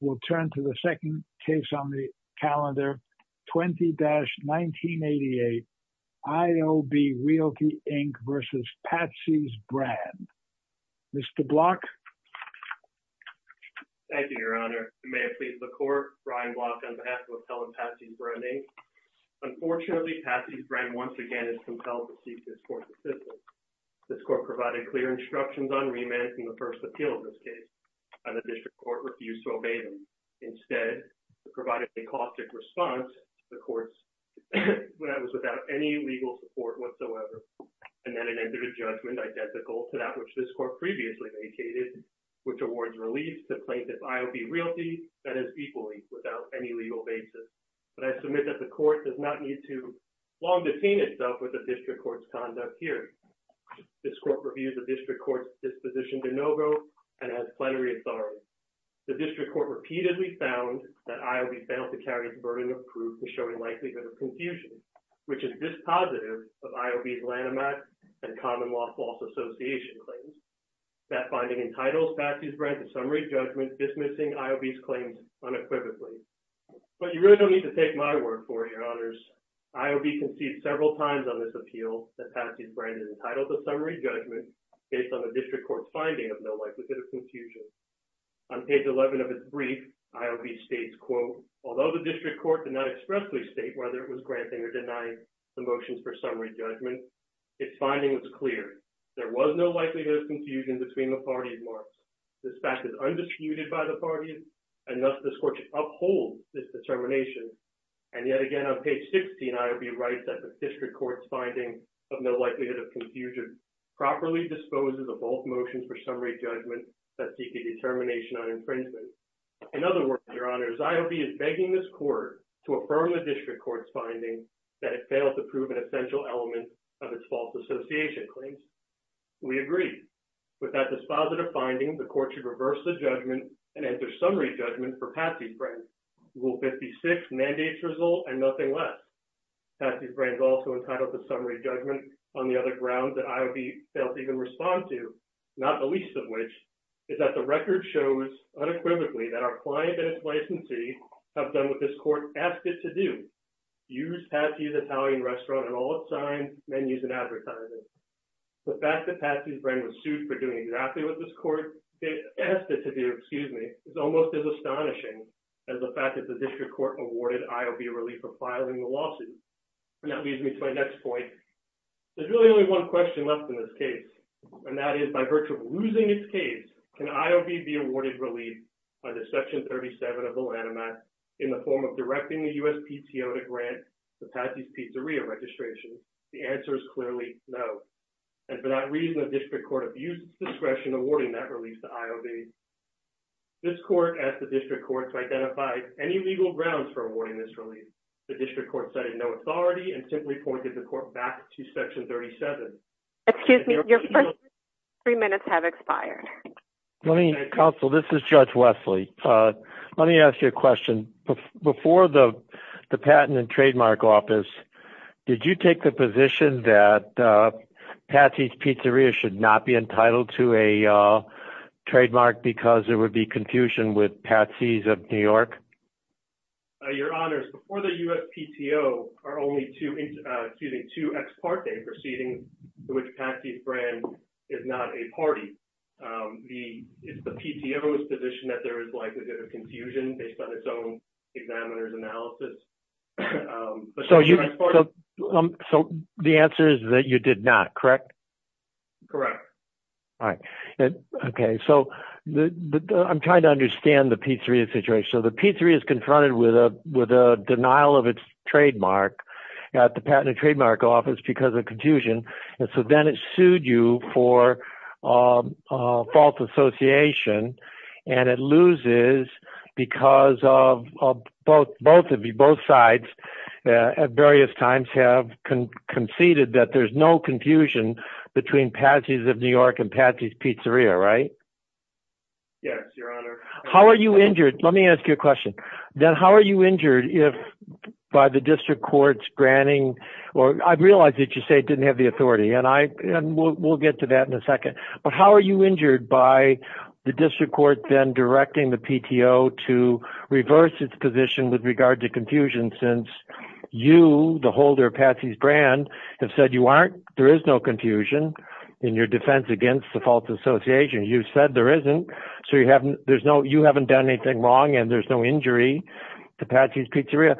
We'll turn to the second case on the calendar, 20-1988. I.O.B. Realty, Inc. v. Patsy's Brand. Mr. Block? Thank you, Your Honor. May it please the Court, Brian Block on behalf of Appellant Patsy's Brand, Inc. Unfortunately, Patsy's Brand once again is compelled to seek this Court's assistance. This Court provided clear instructions on remand in the first appeal of this case, and the District Court refused to obey them. Instead, it provided a caustic response to the Court's when it was without any legal support whatsoever, and then it entered a judgment identical to that which this Court previously vacated, which awards relief to plaintiff I.O.B. Realty that is equally without any legal basis. But I submit that the Court does not need to long-defeat itself with the District Court's conduct here. This Court reviewed the District Court's disposition de novo and has plenary authority. The District Court repeatedly found that I.O.B. failed to carry its burden of proof to show a likelihood of confusion, which is dispositive of I.O.B.'s Lanham Act and common law false association claims. That finding entitles Patsy's Brand to summary judgment dismissing I.O.B.'s claims unequivocally. But you really don't need to take my word for it, Your Honors. I.O.B. conceded several times on this appeal that Patsy's Brand is entitled to summary judgment based on the District Court's finding of no likelihood of confusion. On page 11 of its brief, I.O.B. states, quote, although the District Court did not expressly state whether it was granting or denying the motions for summary judgment, its finding was clear. There was no likelihood of confusion between the parties, Mark. This fact is undisputed by the that the District Court's finding of no likelihood of confusion properly disposes of both motions for summary judgment that seek a determination on infringement. In other words, Your Honors, I.O.B. is begging this Court to affirm the District Court's finding that it failed to prove an essential element of its false association claims. We agree. With that dispositive finding, the Court should reverse the judgment and enter summary judgment for Patsy's Brand. Rule 56 mandates result and nothing less. Patsy's Brand is also entitled to summary judgment on the other grounds that I.O.B. failed to even respond to, not the least of which is that the record shows unequivocally that our client and its licensee have done what this Court asked it to do, use Patsy's Italian restaurant on all its signs, menus, and advertising. The fact that Patsy's Brand was sued for doing exactly what this Court asked it to do is almost as astonishing as the fact that the District Court awarded I.O.B. relief for filing the lawsuit. And that leads me to my next point. There's really only one question left in this case, and that is by virtue of losing its case, can I.O.B. be awarded relief under Section 37 of the Lanham Act in the form of directing the USPTO to grant the Patsy's Pizzeria registration? The answer is clearly no. And for that reason, the District Court abused its discretion awarding that relief to I.O.B. This Court asked the District Court to identify any legal grounds for awarding this relief. The District Court cited no authority and simply pointed the Court back to Section 37. Excuse me, your first three minutes have expired. Let me counsel. This is Judge Wesley. Let me ask you a question. Before the Patent and Trademark Office, did you take the trademark because there would be confusion with Patsy's of New York? Your Honor, before the USPTO are only two, excuse me, two ex parte proceedings to which Patsy Fran is not a party, the PTO's position that there is likely to be confusion based on its own examiner's analysis. So the answer is that you did not, correct? Correct. All right. Okay. So I'm trying to understand the Pizzeria situation. So the Pizzeria is confronted with a denial of its trademark at the Patent and Trademark Office because of confusion. And so then it sued you for false association and it loses because of both of you, both sides at various times have conceded that there's no confusion between Patsy's of New York and Patsy's Pizzeria, right? Yes, your Honor. How are you injured? Let me ask you a question. Then how are you injured if by the District Court's granting or I realize that you say it didn't have the authority and we'll get to that in a second. But how are you with regard to confusion since you, the holder of Patsy's brand have said you aren't, there is no confusion in your defense against the false association. You've said there isn't, so you haven't done anything wrong and there's no injury to Patsy's Pizzeria.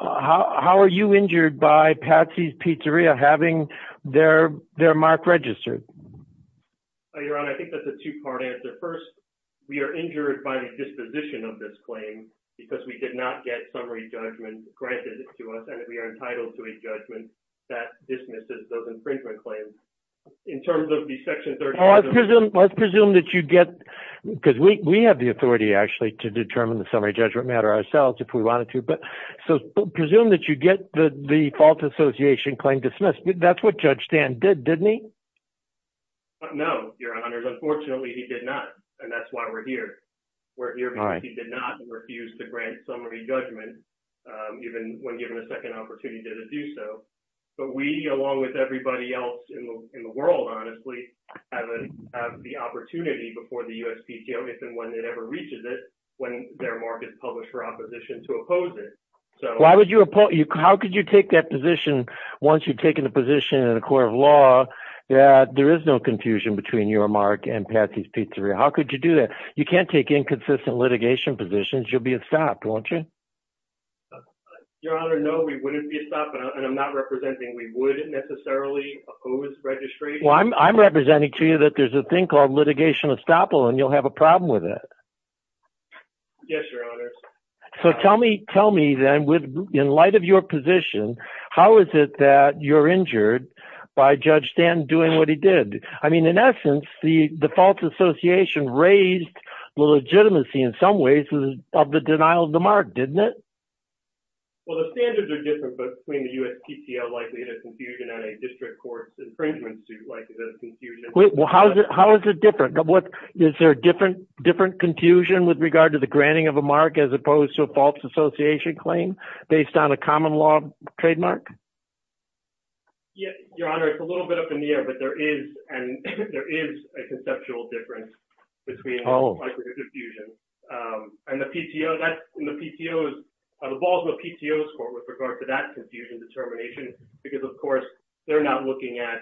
How are you injured by Patsy's Pizzeria having their mark registered? Your Honor, I think that's a two part answer. First, we are injured by the disposition of this claim because we did not get summary judgment granted to us and that we are entitled to a judgment that dismisses those infringement claims. In terms of the section 30- Let's presume that you get, because we have the authority actually to determine the summary judgment matter ourselves if we wanted to, but so presume that you get the false association claim dismissed. That's what Judge Stan did, didn't he? No, your Honor. Unfortunately, he did not and that's why we're here. We're here because he did not refuse to grant summary judgment even when given a second opportunity to do so. But we, along with everybody else in the world, honestly, have the opportunity before the USPTO, if and when it ever reaches it, when their mark is published for opposition to oppose it. So- Why would you oppose, how could you take that position once you've taken a position in a court of law that there is no confusion between your mark and Patsy's pizzeria? How could you do that? You can't take inconsistent litigation positions. You'll be a stop, won't you? Your Honor, no, we wouldn't be a stop and I'm not representing we would necessarily oppose registration. Well, I'm representing to you that there's a thing called litigation estoppel and you'll have a problem with it. Yes, your Honor. So tell me then, in light of your position, how is it that you're injured by Judge Stanton doing what he did? I mean, in essence, the false association raised the legitimacy in some ways of the denial of the mark, didn't it? Well, the standards are different between the USPTO likely in a confusion on a district court infringement suit likely that's confusion- Well, how is it different? Is there a different confusion with regard to the granting of a mark as opposed to a false association claim based on a common law trademark? Yes, your Honor. It's a little bit up in the air, but there is and there is a conceptual difference between- Oh. Likely confusion. And the PTO, that's in the PTO's, the Baltimore PTO's court with regard to that confusion determination, because of course they're not looking at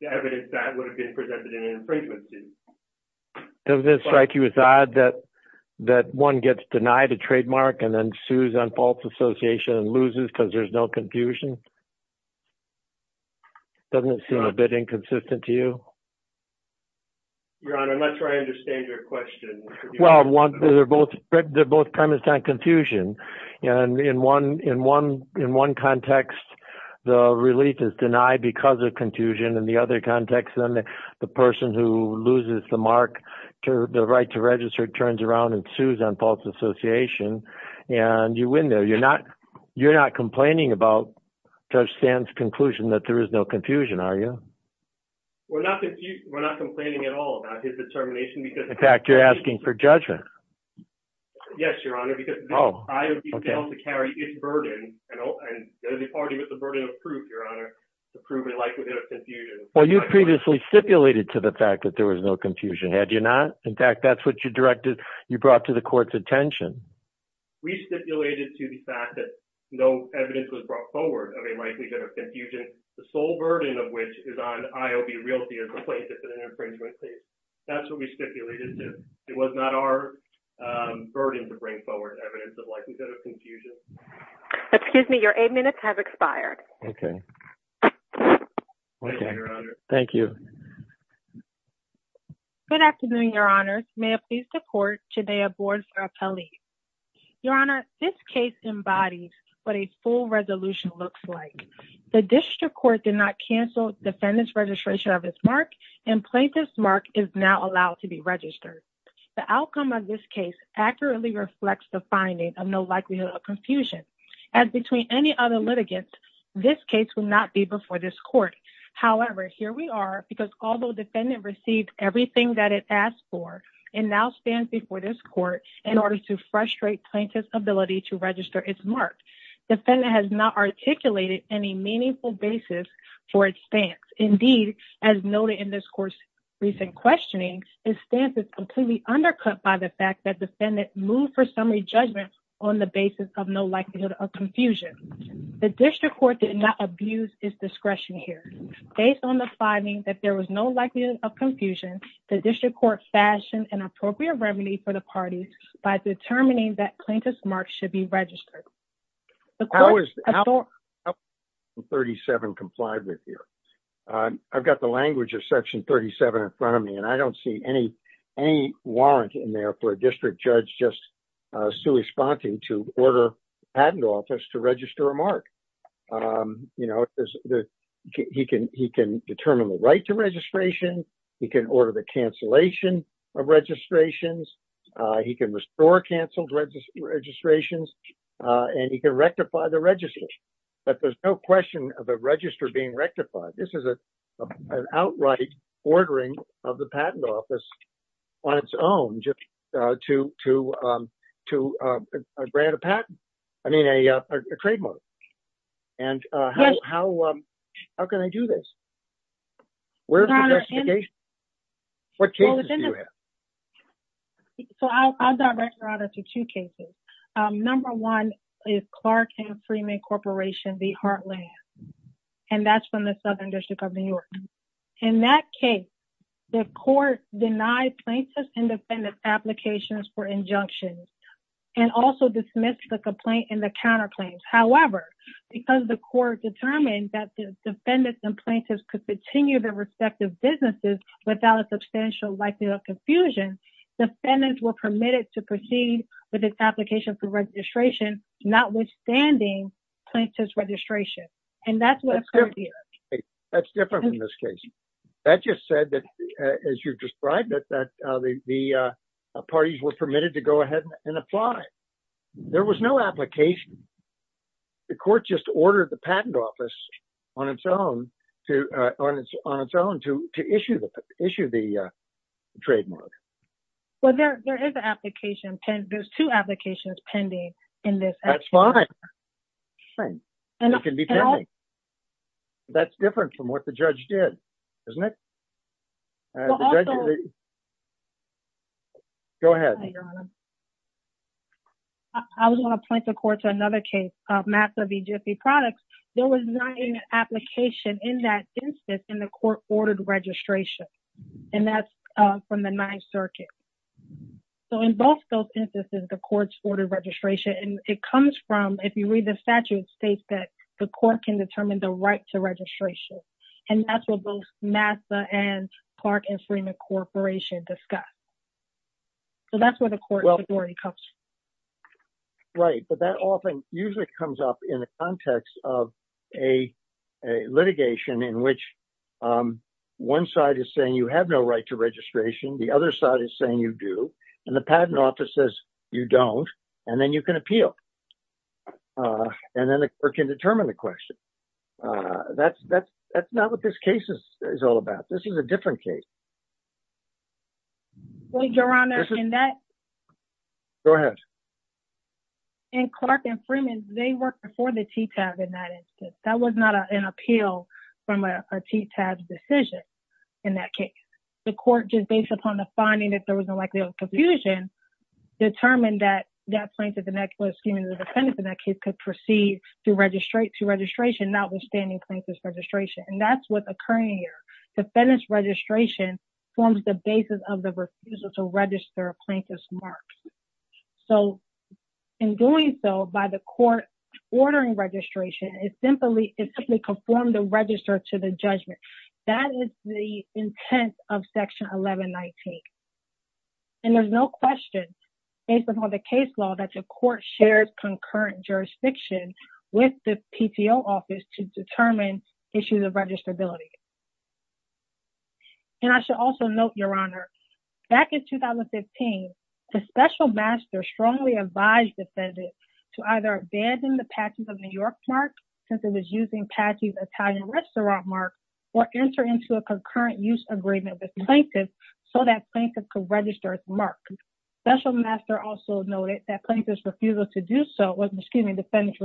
the evidence that would have been presented in an infringement suit. Does this strike you as odd that one gets denied a trademark and then sues on false association and loses because there's no confusion? Doesn't it seem a bit inconsistent to you? Your Honor, I'm not sure I understand your question. Well, they're both premised on confusion. And in one context, the relief is denied because of confusion. In the other context, then the person who loses the mark, the right to false association, and you win there. You're not complaining about Judge Sands' conclusion that there is no confusion, are you? We're not complaining at all about his determination because- In fact, you're asking for judgment. Yes, your Honor, because- Oh. I would be held to carry his burden and there's a party with the burden of proof, your Honor, to prove a likelihood of confusion. Well, you previously stipulated to the fact that there was no confusion, had you not? In fact, that's what you brought to the court's attention. We stipulated to the fact that no evidence was brought forward of a likelihood of confusion, the sole burden of which is on IOB realty as a plaintiff in an infringement case. That's what we stipulated to. It was not our burden to bring forward evidence of likelihood of confusion. Excuse me, your eight minutes have expired. Okay. Thank you, your Honor. Thank you. Good afternoon, your Honor. May I please support today a board for appellees? Your Honor, this case embodies what a full resolution looks like. The district court did not cancel defendant's registration of his mark and plaintiff's mark is now allowed to be registered. The outcome of this case accurately reflects the finding of no likelihood of confusion. As between any other litigants, this case will not be before this court. However, here we are because although defendant received everything that it asked for, it now stands before this court in order to frustrate plaintiff's ability to register its mark. Defendant has not articulated any meaningful basis for its stance. Indeed, as noted in this court's recent questioning, its stance is completely undercut by the fact that defendant moved for summary judgment on the basis of no likelihood of confusion. The district court did not abuse its discretion here. Based on the no likelihood of confusion, the district court fashioned an appropriate remedy for the parties by determining that plaintiff's mark should be registered. How is section 37 complied with here? I've got the language of section 37 in front of me and I don't see any warrant in there for a district judge just sui sponte to order patent office to register a he can determine the right to registration, he can order the cancellation of registrations, he can restore canceled registrations, and he can rectify the register. But there's no question of a register being rectified. This is an outright ordering of the patent office on its own just to grant a patent, I mean a trademark. And how can I do this? So I'll direct your honor to two cases. Number one is Clark and Freeman Corporation v. Heartland, and that's from the Southern District of New York. In that case, the court denied plaintiff's applications for injunctions and also dismissed the complaint in the counterclaims. However, because the court determined that the defendants and plaintiffs could continue their respective businesses without a substantial likelihood of confusion, defendants were permitted to proceed with this application for registration notwithstanding plaintiff's registration. And that's what that's different in this case. That just said that, as you've described it, that the parties were permitted to go ahead and apply. There was no application. The court just ordered the patent office on its own to issue the issue the trademark. Well, there is an application there's two applications pending in this. That's fine. That's different from what the judge did, isn't it? Go ahead. I was going to point the court to another case, Massa v. Jiffy Products. There was not an application in that instance in the court-ordered registration, and that's from the Ninth Circuit. So, in both those instances, the courts ordered registration. And it comes from, if you read the statute, it states that the court can determine the right to registration. And that's what both Massa and Clark and Freeman Corporation discussed. So, that's where the court authority comes from. Right. But that often usually comes up in the context of a litigation in which one side is saying you have no right to registration, the other side is saying you do, and the patent office says you don't, and then you can appeal or can determine the question. That's not what this case is all about. This is a different case. Well, Your Honor, in that- Go ahead. In Clark and Freeman, they worked before the TTAB in that instance. That was not an appeal from a TTAB decision in that case. The court, just based upon the finding that there was a likelihood of confusion, determined that that plaintiff in that case could proceed to registration notwithstanding plaintiff's registration. And that's what's occurring here. Defendant's registration forms the basis of the refusal to register plaintiff's marks. So, in doing so, by the court ordering registration, it simply conformed the register to the judgment. That is the intent of Section 1119. And there's no question, based upon the case law, that the court shares concurrent jurisdiction with the PTO office to determine issues of registrability. And I should also note, Your Honor, back in 2015, the special master strongly advised the defendant to either abandon the Patsy's of New York mark, since it was using Patsy's Italian restaurant mark, or enter into a concurrent use agreement with plaintiff so that plaintiff could register its mark. Special master also noted that plaintiff's refusal to do so, excuse me, and defendant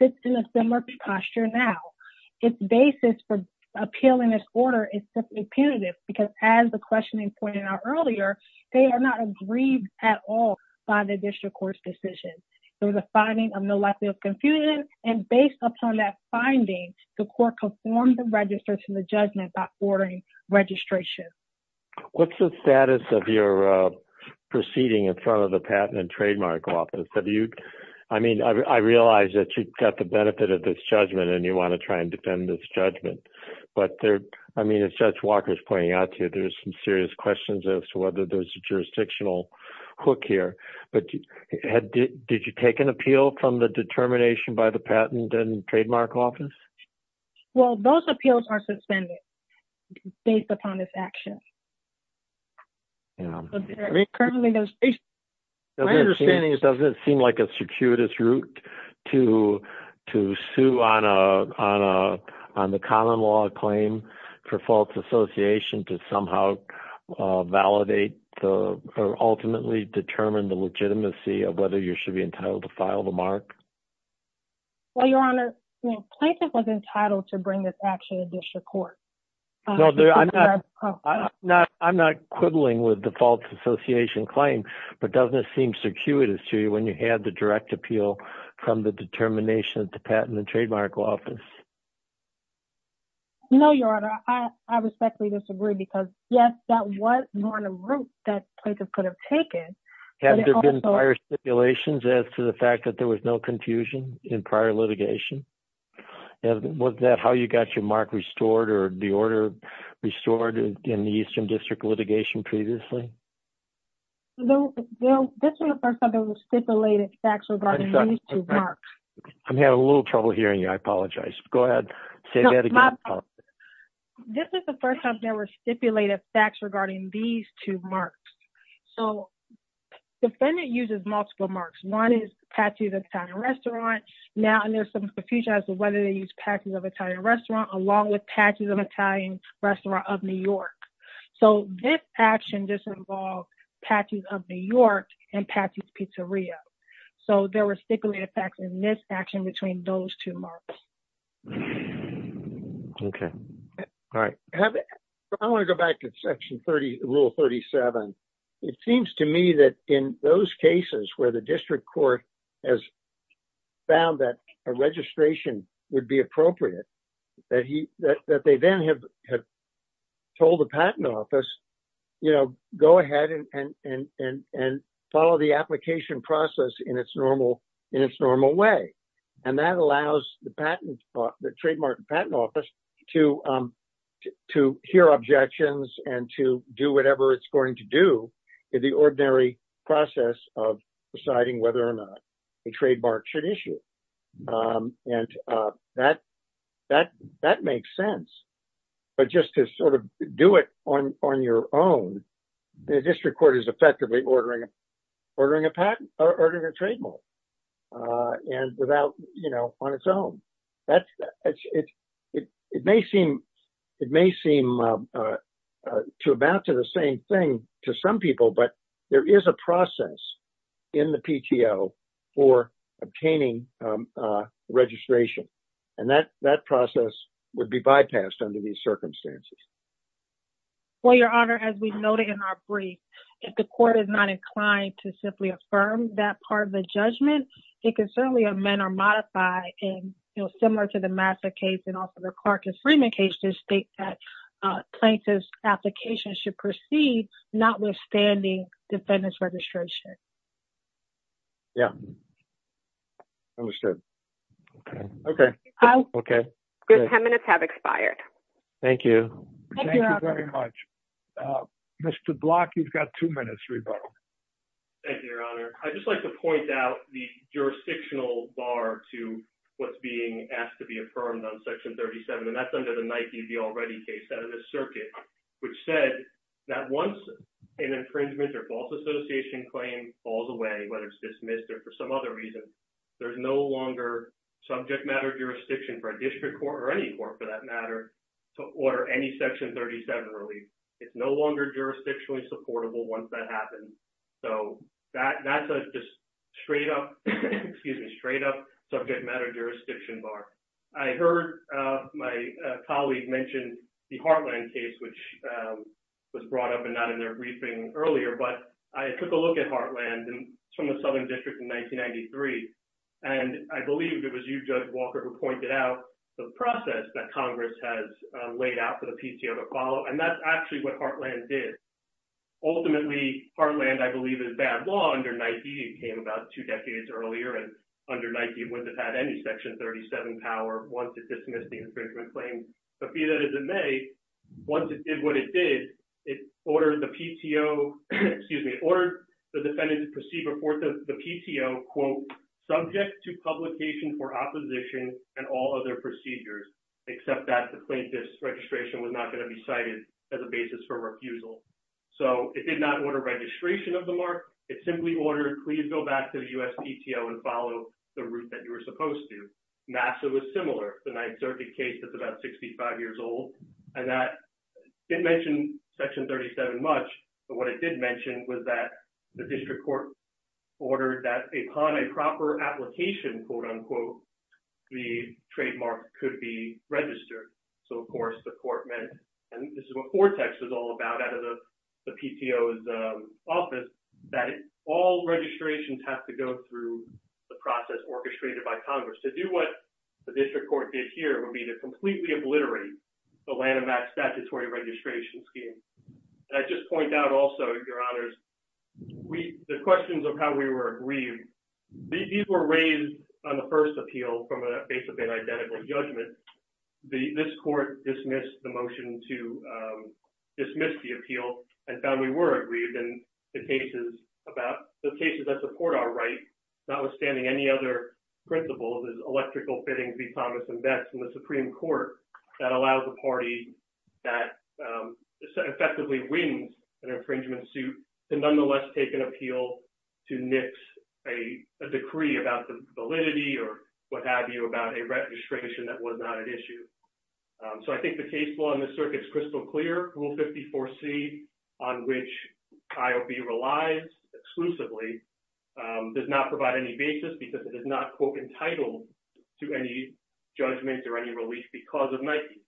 sits in a similar posture now. Its basis for appealing this order is simply punitive, because as the questioning pointed out earlier, they are not aggrieved at all by the district court's decision. There was a finding of no likelihood of confusion, and based upon that finding, the court conformed the register to the judgment by ordering registration. What's the status of your proceeding in front of the Patent and Trademark Office? Have you, I mean, I realize that you've got the benefit of this judgment, and you want to try and defend this judgment, but there, I mean, as Judge Walker's pointing out to you, there's some serious questions as to whether there's a jurisdictional hook here, but did you take an appeal from the determination by the Patent and Trademark Office? Well, those appeals are suspended, based upon this action. Yeah, I mean, currently, my understanding is, doesn't it seem like a circuitous route to sue on the common law claim for false association to somehow validate the, or ultimately determine the legitimacy of whether you should be entitled to file the mark? Well, Your Honor, plaintiff was entitled to bring this action to district court. No, I'm not quibbling with the false association claim, but doesn't it seem circuitous to you when you had the direct appeal from the determination of the Patent and Trademark Office? No, Your Honor, I respectfully disagree, because yes, that was more than a route that plaintiff could have taken. Have there been prior stipulations as to the fact that there was no confusion in prior litigation? And was that how you got your mark restored, or the order restored in the Eastern District litigation previously? Well, this is the first time there were stipulated facts regarding these two marks. I'm having a little trouble hearing you, I apologize. Go ahead, say that again. This is the first time there were stipulated facts regarding these two marks. So, defendant uses multiple marks. One is Patsy's Italian Restaurant, now there's some confusion as to whether they use Patsy's of Italian Restaurant, along with Patsy's of Italian Restaurant of New York. So, this action does involve Patsy's of New York and Patsy's Pizzeria. So, there were stipulated facts in this action between those two marks. Okay, all right. I want to go back to Rule 37. It seems to me that in those cases where the district court has found that a registration would be appropriate, that they then have told the patent office, go ahead and follow the application process in its normal way. And that allows the trademark and patent office to hear objections and to do whatever it's going to do in the ordinary process of deciding whether or not the trademark should issue. And that makes sense. But just to sort of do it on your own, the district court is effectively ordering a patent or ordering a trademark. And without, you know, on its own. It may seem to amount to the same thing to some people, but there is a process in the PTO for obtaining registration. And that process would be bypassed under these circumstances. Well, Your Honor, as we noted in our brief, if the court is not inclined to simply affirm that part of the judgment, it can certainly amend or modify in, you know, similar to the Massa case and also the Clark and Freeman cases state that plaintiff's application should proceed notwithstanding defendant's registration. Yeah. Understood. Okay. Okay. Your 10 minutes have expired. Thank you. Thank you very much. Mr. Block, you've got two minutes, rebuttal. Thank you, Your Honor. I just like to point out the jurisdictional bar to what's being asked to be affirmed on Section 37. And that's under the Nike, the already case out of the circuit, which said that once an infringement or false association claim falls away, whether it's dismissed or for some other reason, there's no longer subject matter jurisdiction for a district court or any court for that matter to order any Section 37 relief. It's no longer jurisdictionally affordable once that happens. So that's just straight up, excuse me, straight up subject matter jurisdiction bar. I heard my colleague mentioned the Heartland case, which was brought up and not in their briefing earlier, but I took a look at Heartland and it's from the Southern District in 1993. And I believe it was you, Judge Walker, who pointed out the process that Congress has laid out for the PTO to follow. And that's actually what Heartland did. Ultimately, Heartland, I believe, is bad law under Nike. It came about two decades earlier and under Nike, it wouldn't have had any Section 37 power once it dismissed the infringement claim. The fee that is in May, once it did what it did, it ordered the PTO, excuse me, ordered the defendant to proceed before the PTO, quote, subject to publication for opposition and all other procedures, except that the plaintiff's registration was not going to be cited as a basis for refusal. So it did not order registration of the mark. It simply ordered, please go back to the U.S. PTO and follow the route that you were supposed to. NASA was similar. The 9th Circuit case is about 65 years old and that didn't mention Section 37 much. But what it did mention was that the district court ordered that upon a proper application, quote, unquote, the trademark could be registered. So, of course, the court meant, and this is what Fortex is all about out of the PTO's office, that all registrations have to go through the process orchestrated by Congress. To do what the district court did here would be to completely obliterate the Lanham Act statutory registration scheme. I just point out also, Your Honors, the questions of how we were agreed, these were raised on the first appeal from a base of inidentical judgment. This court dismissed the motion to dismiss the appeal and found we were agreed in the cases about, the cases that support our right, notwithstanding any other principles, electrical fittings, e-commerce and vets, and the Supreme Court that allows a party that effectively wins an infringement suit to nonetheless take an appeal to nix a decree about the validity or what have you about a registration that was not at issue. So, I think the case law in this circuit is crystal clear. Rule 54C, on which IOB relies exclusively, does not provide any basis because it is not, quote, entitled to any judgment or any relief because of Nike.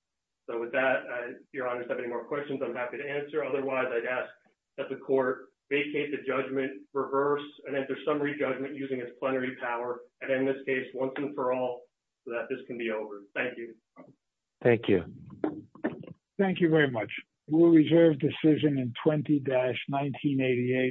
So, with that, Your Honors, if you have any more questions, I'm happy to answer. Otherwise, I'd ask that the court vacate the judgment, reverse and enter summary judgment using its plenary power, and in this case, once and for all, so that this can be over. Thank you. Thank you. Thank you very much. Rule reserve decision in 20-1988,